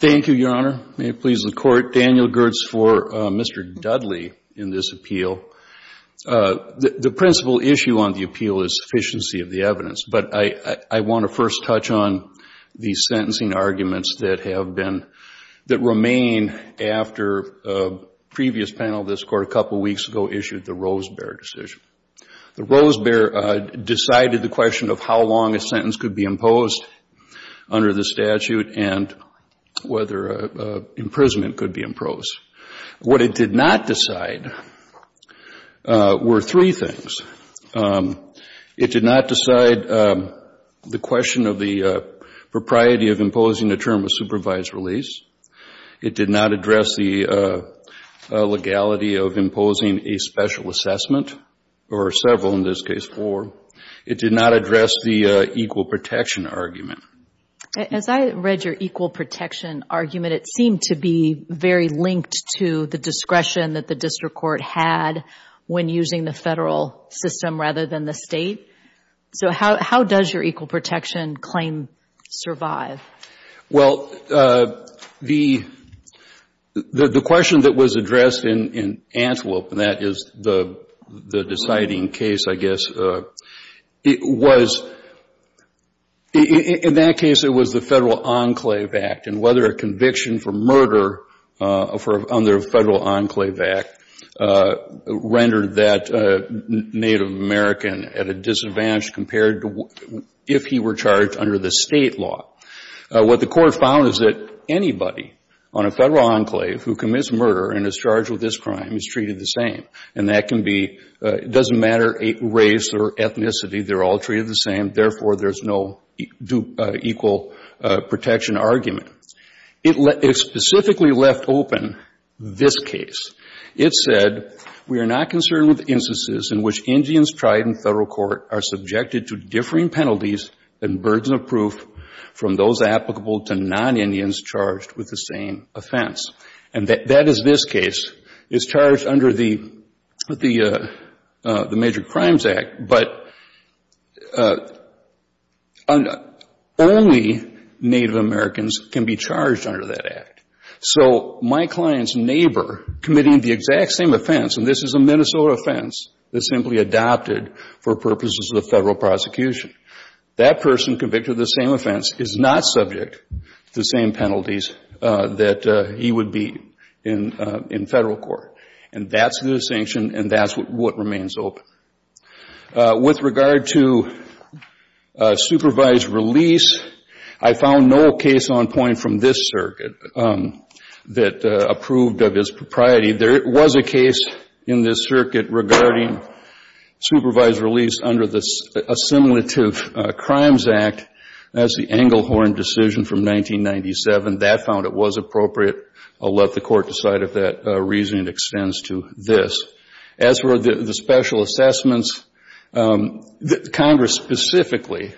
Thank you, Your Honor. May it please the Court, Daniel Gertz for Mr. Dudley in this appeal. The principal issue on the appeal is sufficiency of the evidence, but I want to first touch on the sentencing arguments that have been, that remain after a previous panel of this Court a couple weeks ago issued the Rosebear decision. The Rosebear decided the question of how long a sentence could be imposed under the statute and whether imprisonment could be imposed. What it did not decide were three things. It did not decide the question of the propriety of imposing a term of supervised release. It did not address the legality of imposing a special assessment, or several in this case, four. It did not address the equal protection argument. Judge Fischer As I read your equal protection argument, it seemed to be very linked to the discretion that the district court had when using the Federal system rather than the State. So how does your equal protection claim survive? Mr. Dudley Well, the question that was addressed in Antelope, and that is the deciding case, I guess, it was, in that case it was the Federal Enclave Act, and whether a conviction for murder under Federal Enclave Act rendered that Native American at a disadvantage compared to if he were charged under the State law. What the Court found is that anybody on a Federal Enclave who commits murder and is charged with this crime is treated the same. And that can be, it doesn't matter race or ethnicity, they're all treated the same. Therefore, there's no equal protection argument. It specifically left open this case. It said, we are not concerned with instances in which Indians tried in Federal court are subjected to differing penalties and burdens of proof from those applicable to non-Indians charged with the same offense. And that is this case. It's charged under the Major Crimes Act, but only Native Americans can be charged under that act. So my client's neighbor committing the exact same offense, and this is a Minnesota offense that simply adopted for purposes of the Federal prosecution, that person convicted of the same offense is not subject to the same penalties that he would be in Federal court. And that's the distinction, and that's what remains open. With regard to supervised release, I found no case on point from this circuit that approved of his propriety. There was a case in this circuit regarding supervised release under the Assimilative Crimes Act. That's the Englehorn decision from 1997. That found it was appropriate. I'll let the Court decide if that reasoning extends to this. As for the special assessments, Congress specifically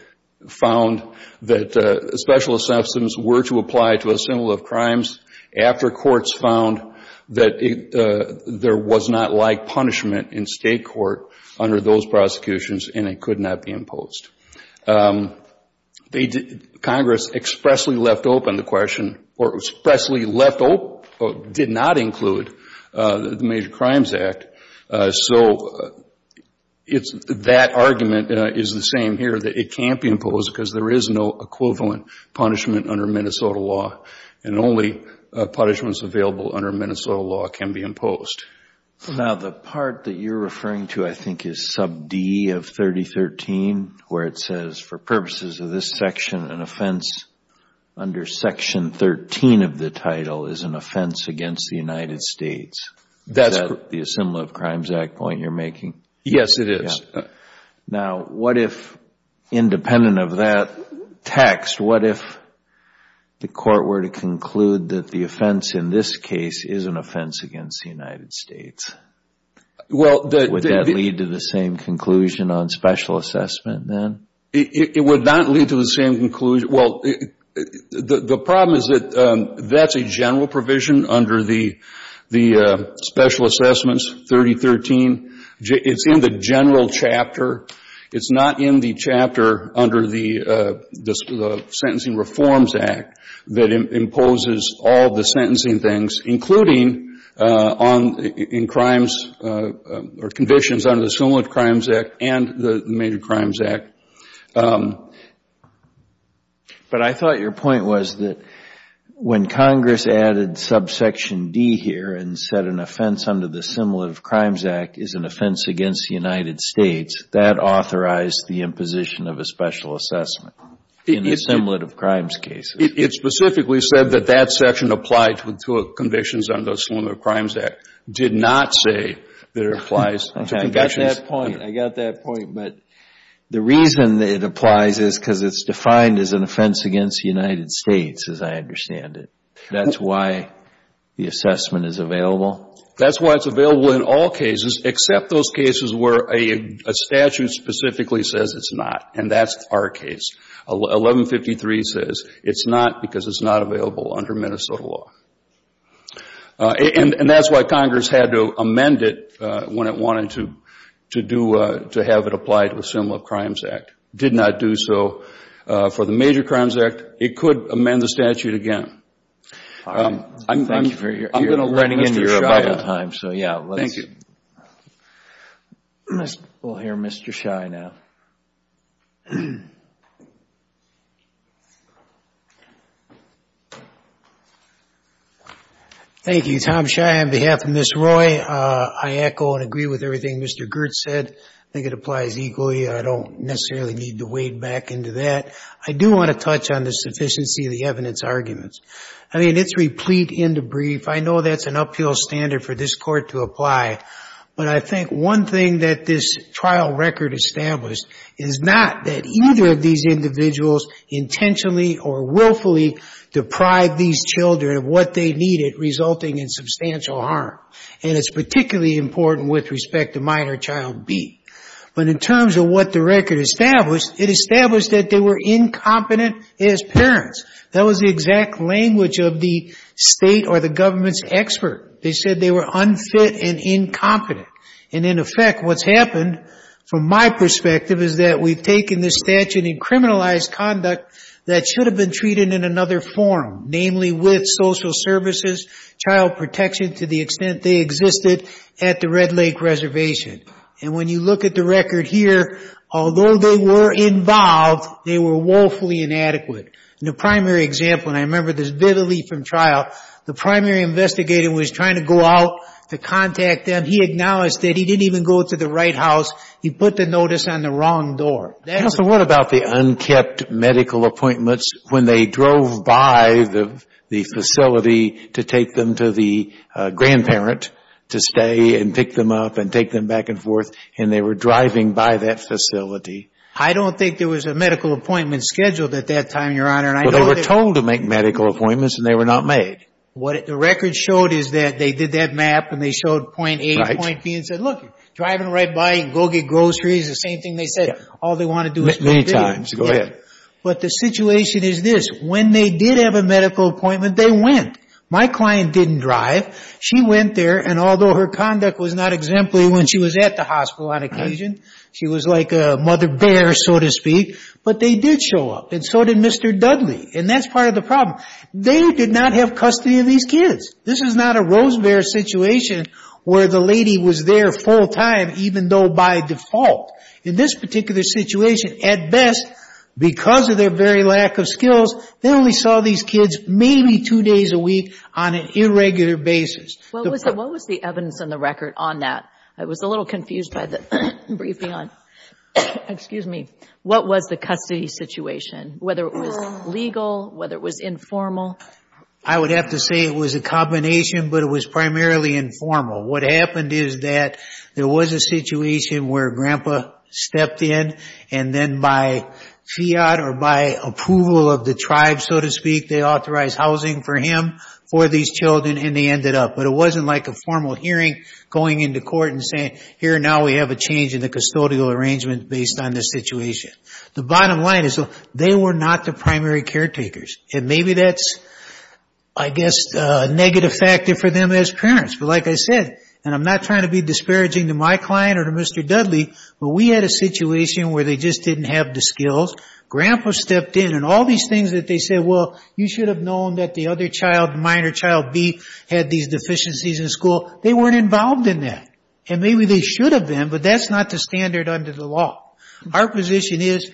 found that special assessments were to apply to assimilative crimes after courts found that there was not like punishment in State court under those prosecutions, and it could not be imposed. Congress expressly left open the question, or expressly left open, did not include the Major Crimes Act. So that argument is the same here, that it can't be imposed because there is no equivalent punishment under Minnesota law, and only punishments available under Minnesota law can be imposed. Now, the part that you're referring to, I think, is sub D of 3013, where it says, for purposes of this section, an offense under section 13 of the title is an offense against the United States. Is that the Assimilative Crimes Act point you're making? Yes, it is. Now, what if, independent of that text, what if the Court were to conclude that the offense in this case is an offense against the United States? Would that lead to the same conclusion on special assessment then? It would not lead to the same conclusion. Well, the problem is that that's a general provision under the Special Assessments 3013. It's in the general chapter. It's not in the chapter under the Sentencing Reforms Act that imposes all the sentencing things, including on, in crimes or conditions under the Assimilative Crimes Act and the Major Crimes Act. But I thought your point was that when Congress added subsection D here and said an offense under the Assimilative Crimes Act is an offense against the United States, that authorized the imposition of a special assessment in the Assimilative Crimes case. It specifically said that that section applied to conditions under the Assimilative Crimes Act. It did not say that it applies to convictions. Okay. I got that point. I got that point. But the reason it applies is because it's defined as an offense against the United States, as I understand it. That's why the assessment is available? That's why it's available in all cases except those cases where a statute specifically says it's not, and that's our case. 1153 says it's not because it's not available under Minnesota law. And that's why Congress had to amend it when it wanted to do, to have it applied to the Assimilative Crimes Act. It did not do so for the Major Crimes Act. It could amend the statute again. Thank you for your time. So, yeah, let's... Thank you. We'll hear Mr. Schei now. Thank you. Tom Schei on behalf of Ms. Roy. I echo and agree with everything Mr. Girtz said. I think it applies equally. I don't necessarily need to wade back into that. I do want to touch on the sufficiency of the evidence arguments. I mean, it's replete and debrief. I know that's an uphill standard for this Court to apply. But I think one thing that this trial record established is not that either of these individuals intentionally or willfully deprived these children of what they needed, resulting in substantial harm. And it's particularly important with respect to minor child B. But in terms of what the record established, it established that they were incompetent as parents. That was the exact language of the state or the government's expert. They said they were unfit and incompetent. And in effect, what's happened from my perspective is that we've taken this statute and criminalized conduct that should have been treated in another form, namely with social services, child protection to the extent they existed at the Red Lake Reservation. And when you look at the record here, although they were involved, they were woefully inadequate. In the primary example, and I remember this vividly from trial, the primary investigator was trying to go out to contact them. He acknowledged that he didn't even go to the right house. He put the notice on the wrong door. Counsel, what about the unkept medical appointments when they drove by the facility to take them to the grandparent to stay and pick them up and take them back and forth, and they were driving by that facility? I don't think there was a medical appointment scheduled at that time, Your Honor. Well, they were told to make medical appointments, and they were not made. What the record showed is that they did that map, and they showed point A, point B, and said, look, driving right by, go get groceries, the same thing they said. All they want to do is make videos. Many times. Go ahead. But the situation is this. When they did have a medical appointment, they went. My client didn't drive. She went there, and although her conduct was not exemplary when she was at the hospital on occasion, she was like a mother bear, so to speak, but they did show up, and so did Mr. Dudley, and that's part of the problem. They did not have custody of these kids. This is not a rose bear situation where the lady was there full time even though by default. In this particular situation, at best, because of their very lack of skills, they only saw these kids maybe two days a week on an irregular basis. What was the evidence in the record on that? I was a little confused by the briefing on that. Excuse me. What was the custody situation, whether it was legal, whether it was informal? I would have to say it was a combination, but it was primarily informal. What happened is that there was a situation where Grandpa stepped in, and then by fiat or by approval of the tribe, so to speak, they authorized housing for him, for these children, and they ended up, but it wasn't like a formal hearing going into court and saying, here, now we have a change in the custodial arrangement based on this situation. The bottom line is they were not the primary caretakers, and maybe that's, I guess, a negative factor for them as parents, but like I said, and I'm not trying to be disparaging to my client or to Mr. Dudley, but we had a situation where they just didn't have the skills. Grandpa stepped in, and all these things that they said, well, you should have known that the other child, minor child B, had these deficiencies in school. They weren't involved in that, and maybe they should have been, but that's not the standard under the law. Our position is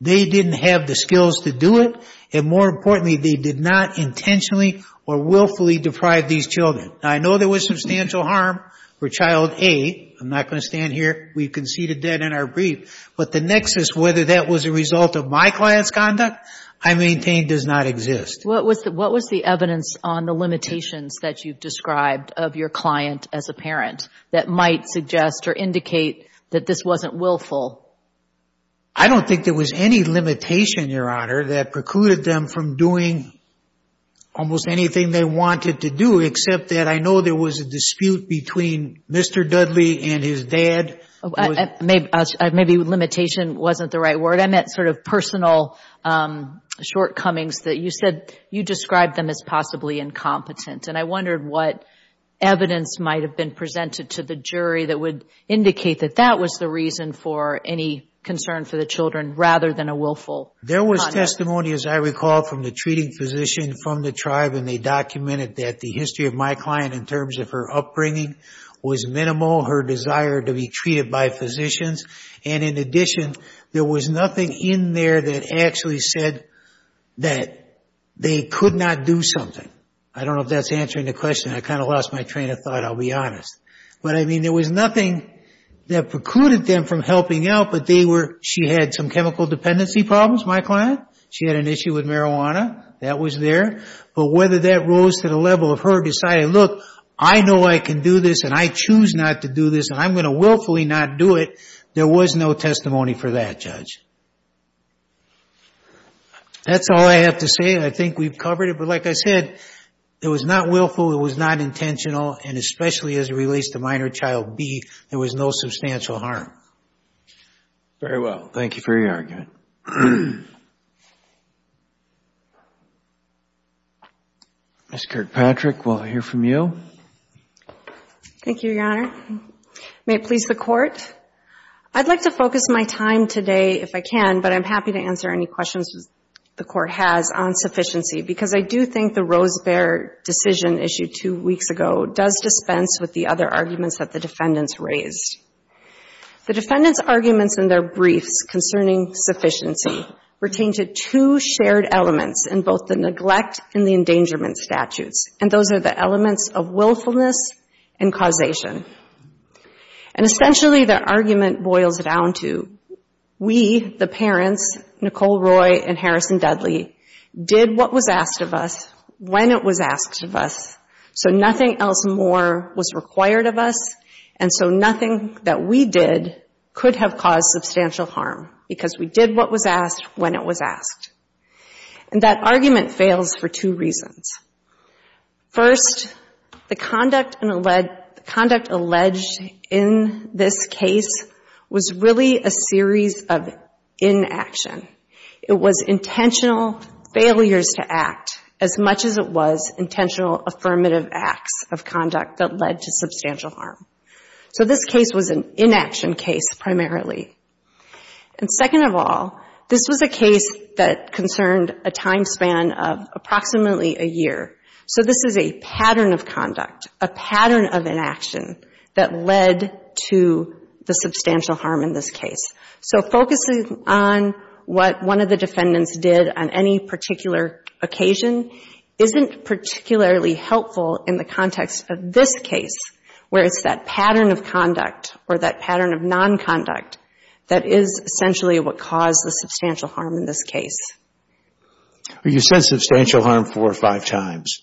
they didn't have the skills to do it, and more importantly, they did not intentionally or willfully deprive these children. I know there was substantial harm for child A. I'm not going to stand here. We conceded that in our brief, but the nexus, whether that was a result of my client's conduct, I maintain does not exist. What was the evidence on the limitations that you've described of your client as a parent that might suggest or indicate that this wasn't willful? I don't think there was any limitation, Your Honor, that precluded them from doing almost anything they wanted to do, except that I know there was a dispute between Mr. Dudley and his dad. Maybe limitation wasn't the right word. I meant sort of personal shortcomings that you said you described them as possibly incompetent, and I wondered what evidence might have been presented to the jury that would indicate that that was the reason for any concern for the children, rather than a willful conduct. There was testimony, as I recall, from the treating physician from the tribe, and they documented that the history of my client in terms of her upbringing was minimal, her desire to be treated by physicians, and in addition, there was nothing in there that actually said that they could not do something. I don't know if that's answering the question. I kind of lost my train of thought, I'll be honest. But I mean, there was nothing that precluded them from helping out, but they were, she had some chemical dependency problems, my client. She had an issue with marijuana. That was there. But whether that rose to the level of her deciding, look, I know I can do this, and I choose not to do this, and I'm going to willfully not do it, there was no testimony for that, Judge. That's all I have to say. I think we've covered it. But like I said, it was not willful, it was not intentional, and especially as it relates to minor child B, there was no substantial harm. Very well. Thank you for your argument. Ms. Kirkpatrick, we'll hear from you. Thank you, Your Honor. May it please the Court. I'd like to focus my time today, if I can, but I'm happy to answer any questions the Court has on sufficiency, because I do think the Rosebear decision issued two weeks ago does dispense with the other arguments that the defendants raised. The defendants' arguments in their briefs concerning sufficiency pertain to two shared elements in both the neglect and the endangerment statutes, and those are the elements of willfulness and causation. And essentially, the argument boils down to, we, the parents, Nicole Roy and Harrison Dudley, did what was asked of us when it was asked of us, so nothing else more was required of us, and so nothing that we did could have caused substantial harm, because we did what was asked when it was asked. And that argument fails for two reasons. First, the conduct alleged in this case was really a series of inaction. It was intentional failures to act, as much as it was intentional affirmative acts of conduct that led to substantial harm. So this case was an inaction case primarily. And second of all, this was a case that concerned a time span of approximately a year. So this is a pattern of conduct, a pattern of inaction, that led to the substantial harm in this case. So focusing on what one of the defendants did on any particular occasion isn't particularly helpful in the context of this case, where it's that pattern of conduct or that pattern of nonconduct that is essentially what caused the substantial harm in this case. You said substantial harm four or five times.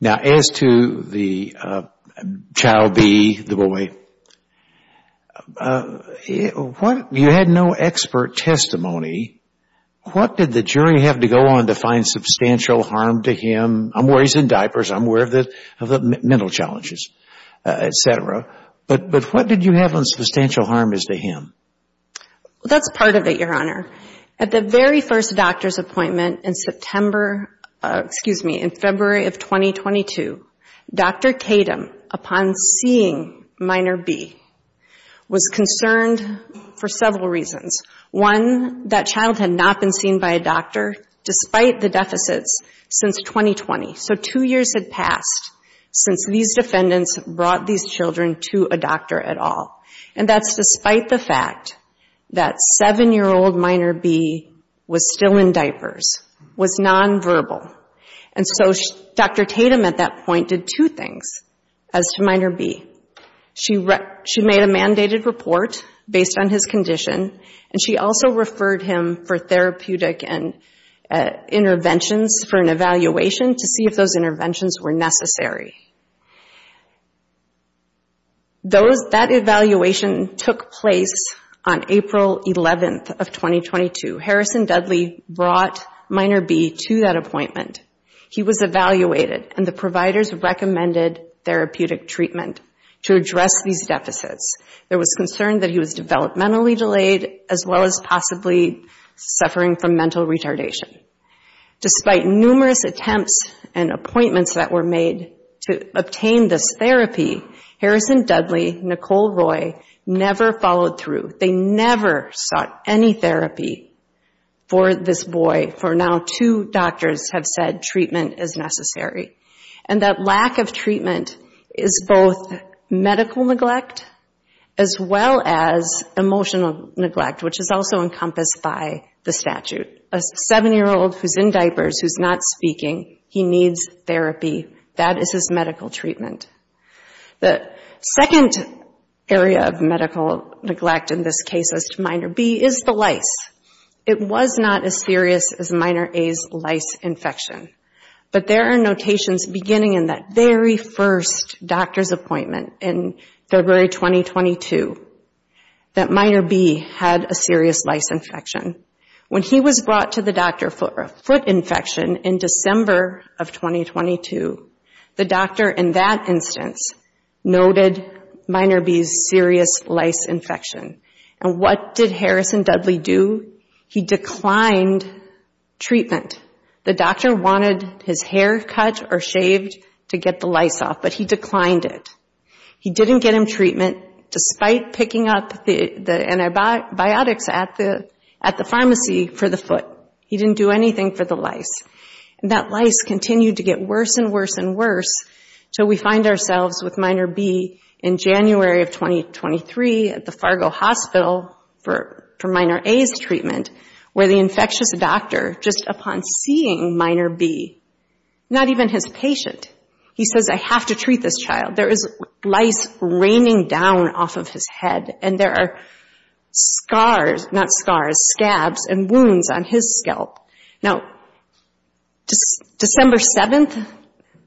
Now, as to the child B, the boy, you had no expert testimony. What did the jury have to go on to find substantial harm to him? I'm aware he's in diapers. I'm aware of the mental challenges, et cetera. But what did you have on substantial harm as to him? That's part of it, Your Honor. At the very first doctor's appointment in February of 2022, Dr. Tatum, upon seeing minor B, was concerned for several reasons. One, that child had not been seen by a doctor despite the deficits since 2020. So two years had passed since these defendants brought these children to a doctor at all. And that's despite the fact that seven-year-old minor B was still in diapers, was nonverbal. And so Dr. Tatum at that point did two things as to minor B. She made a mandated report based on his condition, and she also referred him for therapeutic interventions for an evaluation to see if those interventions were necessary. That evaluation took place on April 11th of 2022. Harrison Dudley brought minor B to that appointment. He was evaluated, and the providers recommended therapeutic treatment to address these deficits. There was concern that he was developmentally delayed, as well as possibly suffering from mental retardation. Despite numerous attempts and appointments that were made, to obtain this therapy, Harrison Dudley, Nicole Roy, never followed through. They never sought any therapy for this boy. For now, two doctors have said treatment is necessary. And that lack of treatment is both medical neglect, as well as emotional neglect, which is also encompassed by the statute. A seven-year-old who's in diapers, who's not speaking, he needs therapy. That is his medical treatment. The second area of medical neglect in this case as to minor B is the lice. It was not as serious as minor A's lice infection. But there are notations beginning in that very first doctor's appointment in February 2022 that minor B had a serious lice infection. When he was brought to the doctor for a foot infection in December of 2022, the doctor in that instance noted minor B's serious lice infection. And what did Harrison Dudley do? He declined treatment. The doctor wanted his hair cut or shaved to get the lice off, but he declined it. He didn't get him treatment despite picking up the antibiotics at the pharmacy for the foot. He didn't do anything for the lice. And that lice continued to get worse and worse and worse till we find ourselves with minor B in January of 2023 at the Fargo Hospital for minor A's treatment, where the infectious doctor, just upon seeing minor B, not even his patient, he says, I have to treat this child. There is lice raining down off of his head. And there are scars, not scars, scabs and wounds on his scalp. Now, December 7th,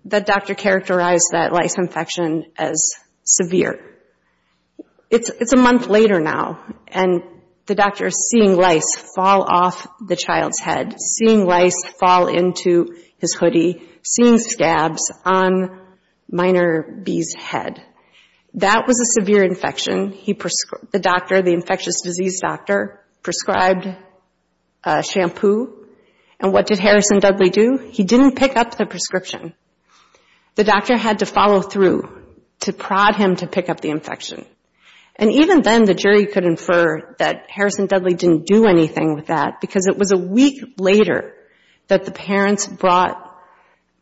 the doctor characterized that lice infection as severe. It's a month later now, and the doctor is seeing lice fall off the child's head, seeing lice fall into his hoodie, seeing scabs on minor B's head. That was a severe infection. The doctor, the infectious disease doctor, prescribed shampoo. And what did Harrison Dudley do? He didn't pick up the prescription. The doctor had to follow through to prod him to pick up the infection. And even then, the jury could infer that Harrison Dudley didn't do anything with that because it was a week later that the parents brought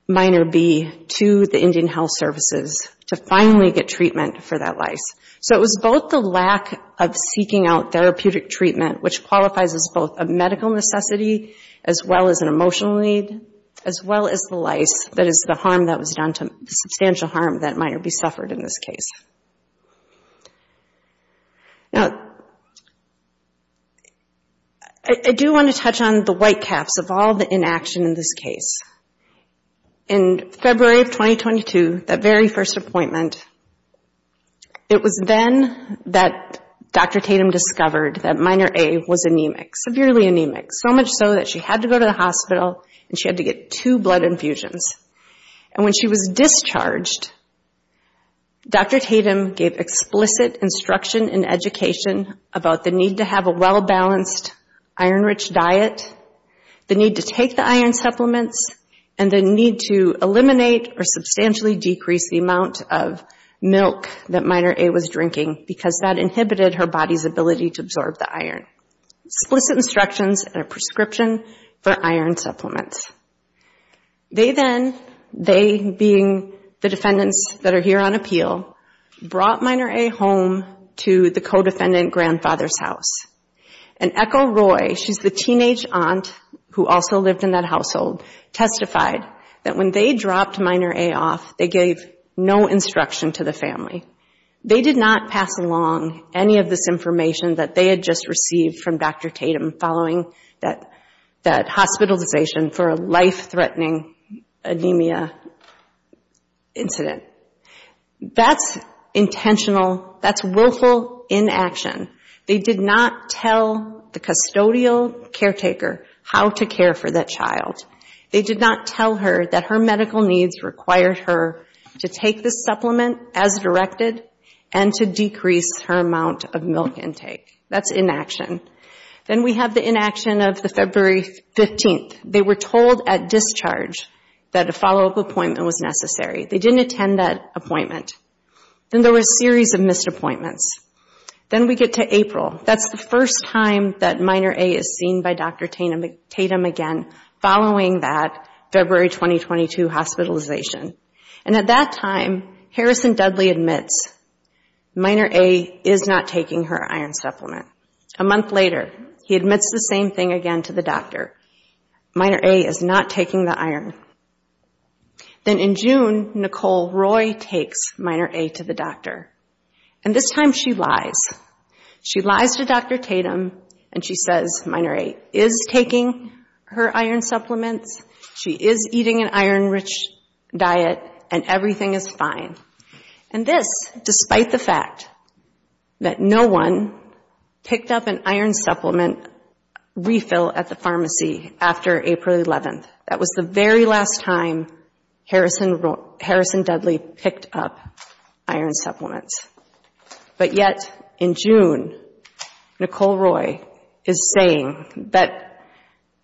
minor B to the Indian Health Services to finally get treatment for that lice. So it was both the lack of seeking out therapeutic treatment, which qualifies as both a medical necessity, as well as an emotional need, as well as the lice that is the harm that was done, substantial harm that minor B suffered in this case. Now, I do want to touch on the white caps of all the inaction in this case. In February of 2022, that very first appointment, it was then that Dr. Tatum discovered that minor A was anemic, severely anemic, so much so that she had to go to the hospital and she had to get two blood infusions. And when she was discharged, Dr. Tatum gave explicit instruction and education about the need to have a well-balanced, iron-rich diet, the need to take the iron supplements, and the need to eliminate or substantially decrease the amount of milk that minor A was drinking because that inhibited her body's ability to absorb the iron. Explicit instructions and a prescription for iron supplements. They then, they being the defendants that are here on appeal, brought minor A home to the co-defendant grandfather's house. And Echo Roy, she's the teenage aunt who also lived in that household, testified that when they dropped minor A off, they gave no instruction to the family. They did not pass along any of this information that they had just received from Dr. Tatum following that hospitalization for a life-threatening anemia incident. That's intentional, that's willful inaction. They did not tell the custodial caretaker how to care for that child. They did not tell her that her medical needs required her to take the supplement as directed and to decrease her amount of milk intake. That's inaction. Then we have the inaction of the February 15th. They were told at discharge that a follow-up appointment was necessary. They didn't attend that appointment. Then there were a series of missed appointments. Then we get to April. That's the first time that minor A is seen by Dr. Tatum again following that February 2022 hospitalization. And at that time, Harrison Dudley admits minor A is not taking her iron supplement. A month later, he admits the same thing again to the doctor. Minor A is not taking the iron. Then in June, Nicole Roy takes minor A to the doctor. And this time she lies. She lies to Dr. Tatum and she says minor A is taking her iron supplements. She is eating an iron-rich diet and everything is fine. And this despite the fact that no one picked up an iron supplement refill at the pharmacy after April 11th. That was the very last time Harrison Dudley picked up iron supplements. But yet in June, Nicole Roy is saying that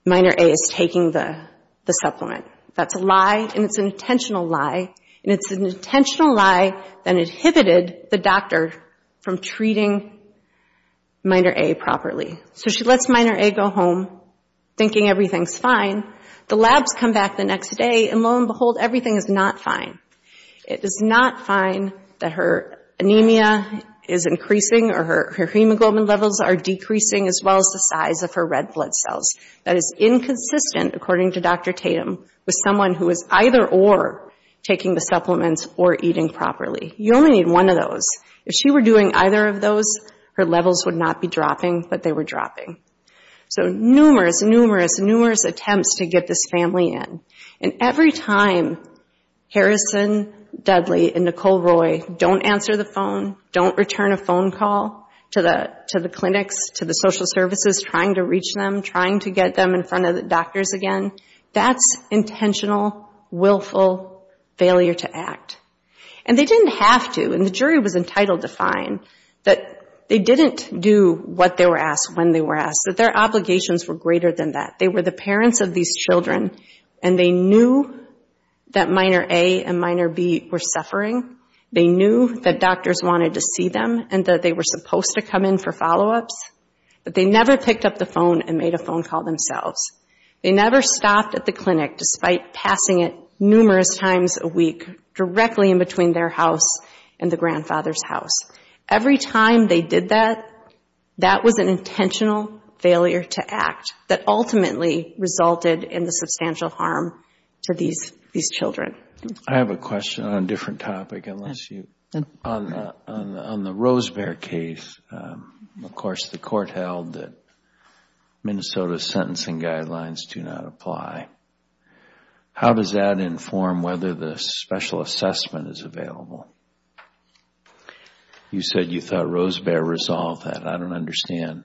minor A is taking the supplement. That's a lie and it's an intentional lie. And it's an intentional lie that inhibited the doctor from treating minor A properly. So she lets minor A go home thinking everything's fine. The labs come back the next day and lo and behold, everything is not fine. It is not fine that her anemia is increasing or her hemoglobin levels are decreasing as well as the size of her red blood cells. That is inconsistent, according to Dr. Tatum, with someone who is either or taking the supplements or eating properly. You only need one of those. If she were doing either of those, her levels would not be dropping, but they were dropping. So numerous, numerous, numerous attempts to get this family in. And every time Harrison Dudley and Nicole Roy don't answer the phone, don't return a phone call to the clinics, to the social services, trying to reach them, trying to get them in front of the doctors again, that's intentional, willful failure to act. And they didn't have to, and the jury was entitled to fine, that they didn't do what they were asked, when they were asked, that their obligations were greater than that. They were the parents of these children and they knew that minor A and minor B were suffering. They knew that doctors wanted to see them and that they were supposed to come in for follow-ups, but they never picked up the phone and made a phone call themselves. They never stopped at the clinic, despite passing it numerous times a week, directly in between their house and the grandfather's house. Every time they did that, that was an intentional failure to act that ultimately resulted in the substantial harm to these children. I have a question on a different topic, unless you... On the Rosebear case, of course, the court held that Minnesota sentencing guidelines do not apply. How does that inform whether the special assessment is available? You said you thought Rosebear resolved that. I don't understand.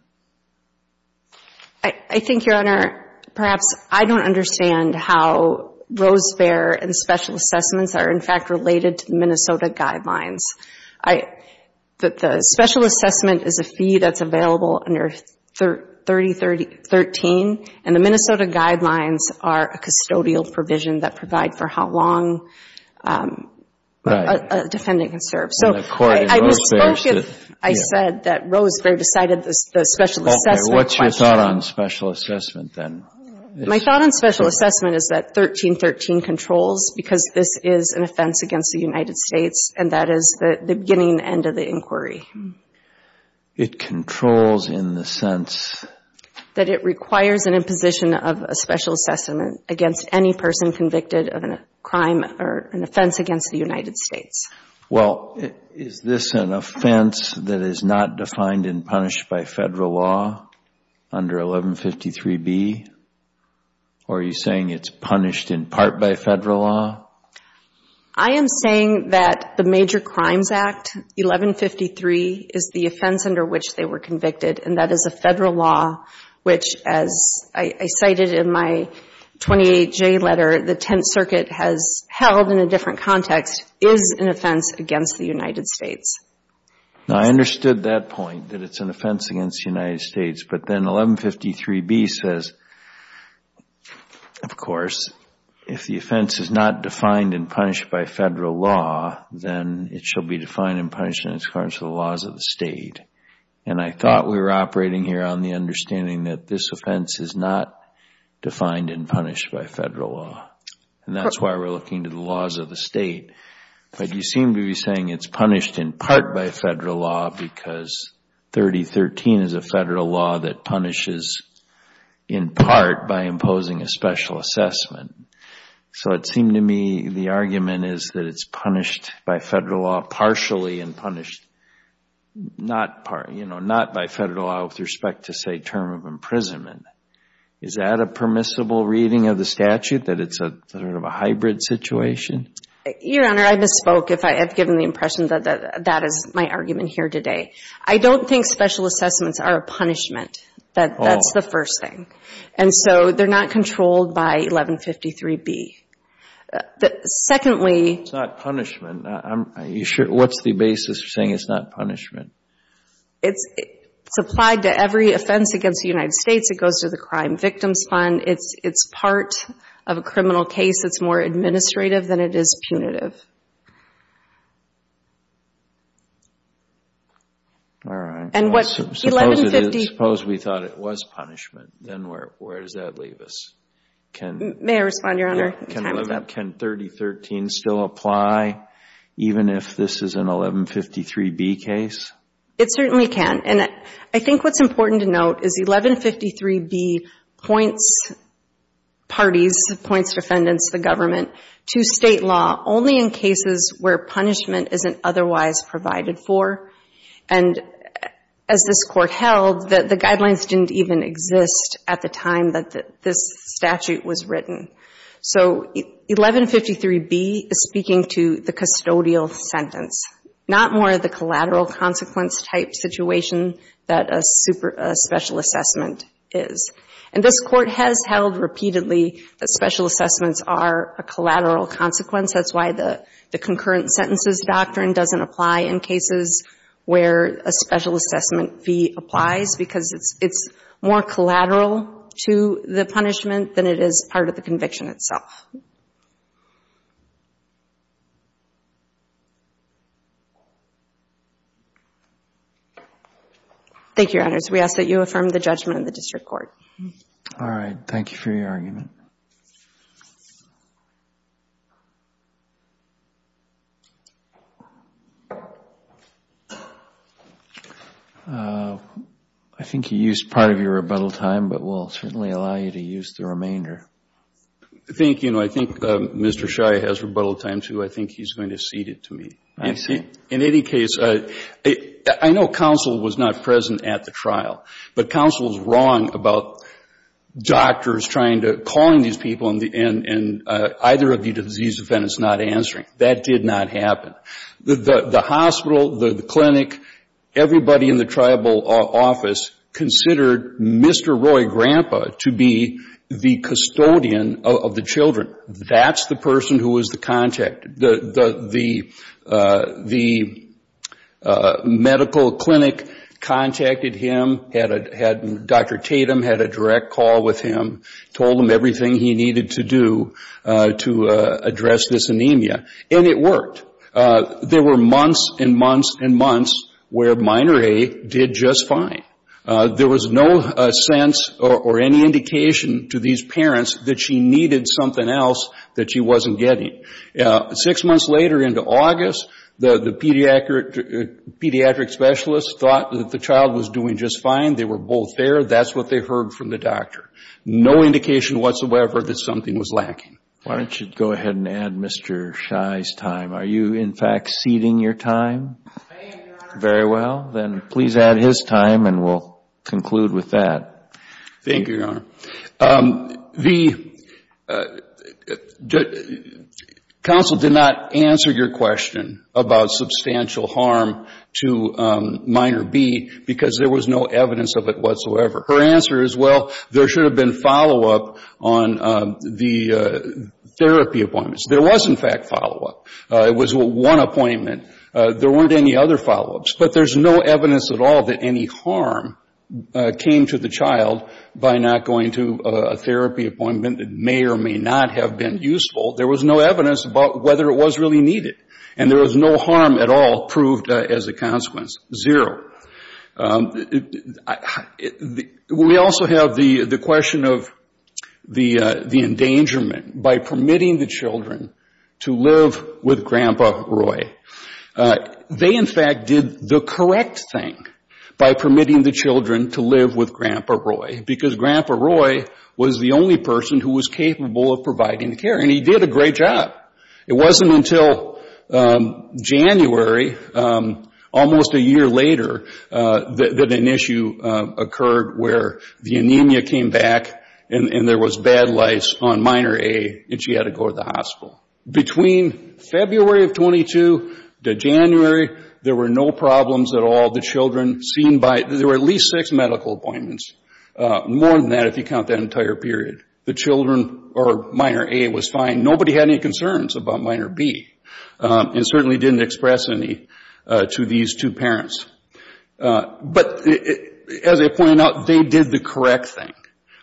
I think, Your Honor, perhaps I don't understand how Rosebear and special assessments are, in fact, related to the Minnesota guidelines. The special assessment is a fee that's available under 3013, and the Minnesota guidelines are a custodial provision that provide for how long a defendant can serve. So, I spoke if I said that Rosebear decided the special assessment... What's your thought on special assessment then? My thought on special assessment is that 1313 controls, because this is an offense against the United States, and that is the beginning and end of the inquiry. It controls in the sense... That it requires an imposition of a special assessment against any person convicted of a crime or an offense against the United States. Well, is this an offense that is not defined and punished by federal law under 1153B? Or are you saying it's punished in part by federal law? I am saying that the Major Crimes Act, 1153, is the offense under which they were convicted, and that is a federal law which, as I cited in my 28J letter, the Tenth Circuit has held in a different context, is an offense against the United States. Now, I understood that point, that it's an offense against the United States, but then 1153B says, of course, if the offense is not defined and punished by federal law, then it shall be defined and punished in accordance with the laws of the state. And I thought we were operating here on the understanding that this offense is not defined and punished by federal law. And that's why we're looking to the laws of the state. But you seem to be saying it's punished in part by federal law because 3013 is a federal law that punishes in part by imposing a special assessment. So it seemed to me the argument is that it's punished by federal law partially and punished not by federal law with respect to, say, term of imprisonment. Is that a permissible reading of the statute, that it's a sort of a hybrid situation? Your Honor, I misspoke if I have given the impression that that is my argument here today. I don't think special assessments are a punishment. That's the first thing. And so they're not controlled by 1153B. Secondly... It's not punishment. What's the basis for saying it's not punishment? It's applied to every offense against the United States. It goes to the Crime Victims Fund. It's part of a criminal case. It's more administrative than it is punitive. All right. And what... Suppose we thought it was punishment, then where does that leave us? May I respond, Your Honor? Can 3013 still apply even if this is an 1153B case? It certainly can. And I think what's important to note is 1153B points parties, points defendants, the government, to state law only in cases where punishment isn't otherwise provided for. And as this Court held, the guidelines didn't even exist at the time that this statute was written. So 1153B is speaking to the custodial sentence, not more of the collateral consequence type situation that a special assessment is. And this Court has held repeatedly that special assessments are a collateral consequence. That's why the concurrent sentences doctrine doesn't apply in cases where a special assessment fee applies, because it's more collateral to the punishment than it is part of the conviction itself. Thank you, Your Honors. We ask that you affirm the judgment in the District Court. All right. Thank you for your argument. I think you used part of your rebuttal time, but we'll certainly allow you to use the remainder. I think, you know, I think Mr. Shia has rebuttal time too. I think he's going to cede it to me. I see. In any case, I know counsel was not present at the trial, but counsel was wrong about doctors trying to, calling these people and either of the disease defendants not answering. That did not happen. The hospital, the clinic, everybody in the tribal office considered Mr. Roy Grandpa to be the custodian of the children. That's the person who was the contact. The medical clinic contacted him, Dr. Tatum had a direct call with him, told him everything he needed to do to address this anemia, and it worked. There were months and months and months where minor A did just fine. There was no sense or any indication to these parents that she needed something else that she wasn't getting. Six months later into August, the pediatric specialist thought that the child was doing just fine. They were both there. That's what they heard from the doctor. No indication whatsoever that something was lacking. Why don't you go ahead and add Mr. Shia's time. Are you, in fact, ceding your time? I am, Your Honor. Very well. Then please add his time and we'll conclude with that. Thank you, Your Honor. Counsel did not answer your question about substantial harm to minor B because there was no evidence of it whatsoever. Her answer is, well, there should have been follow-up on the therapy appointments. There was, in fact, follow-up. It was one appointment. There weren't any other follow-ups, but there's no evidence at all that any harm came to the child by not going to a therapy appointment that may or may not have been useful. There was no evidence about whether it was really needed, and there was no harm at all proved as a consequence, zero. We also have the question of the endangerment. By permitting the children to live with Grandpa Roy, they, in fact, did the correct thing by permitting the children to live with Grandpa Roy because Grandpa Roy was the only person who was capable of providing the care, and he did a great job. It wasn't until January, almost a year later, that an issue occurred where the anemia came back and there was bad lice on minor A and she had to go to the hospital. Between February of 22 to January, there were no problems at all. There were at least six medical appointments, more than that if you count that entire period. The children or minor A was fine. Nobody had any concerns about minor B, and certainly didn't express any to these two parents. But as I pointed out, they did the correct thing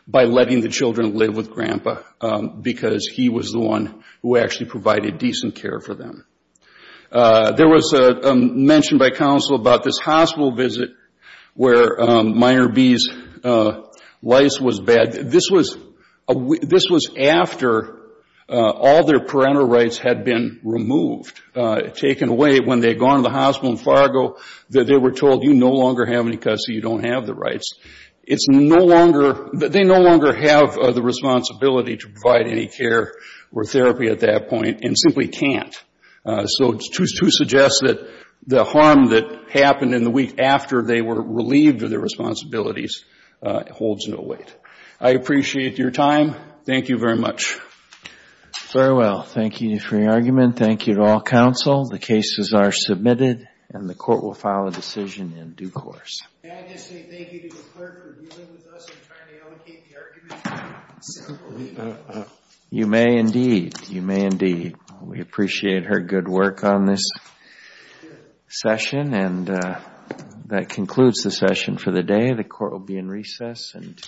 by letting the children live with Grandpa because he was the one who actually provided decent care for them. There was a mention by counsel about this hospital visit where minor B's lice was bad. This was after all their parental rights had been removed, taken away when they had gone to the hospital in Fargo. They were told, you no longer have any custody. You don't have the rights. It's no longer, they no longer have the responsibility to provide any care or therapy at that point and simply can't. So to suggest that the harm that happened in the week after they were relieved of their responsibilities holds no weight. I appreciate your time. Thank you very much. Farewell. Thank you for your argument. Thank you to all counsel. The cases are submitted and the court will file a decision in due course. May I just say thank you to the clerk for dealing with us and trying to allocate the argument? You may indeed. You may indeed. We appreciate her good work on this session and that concludes the session for the day. The court will be in recess until...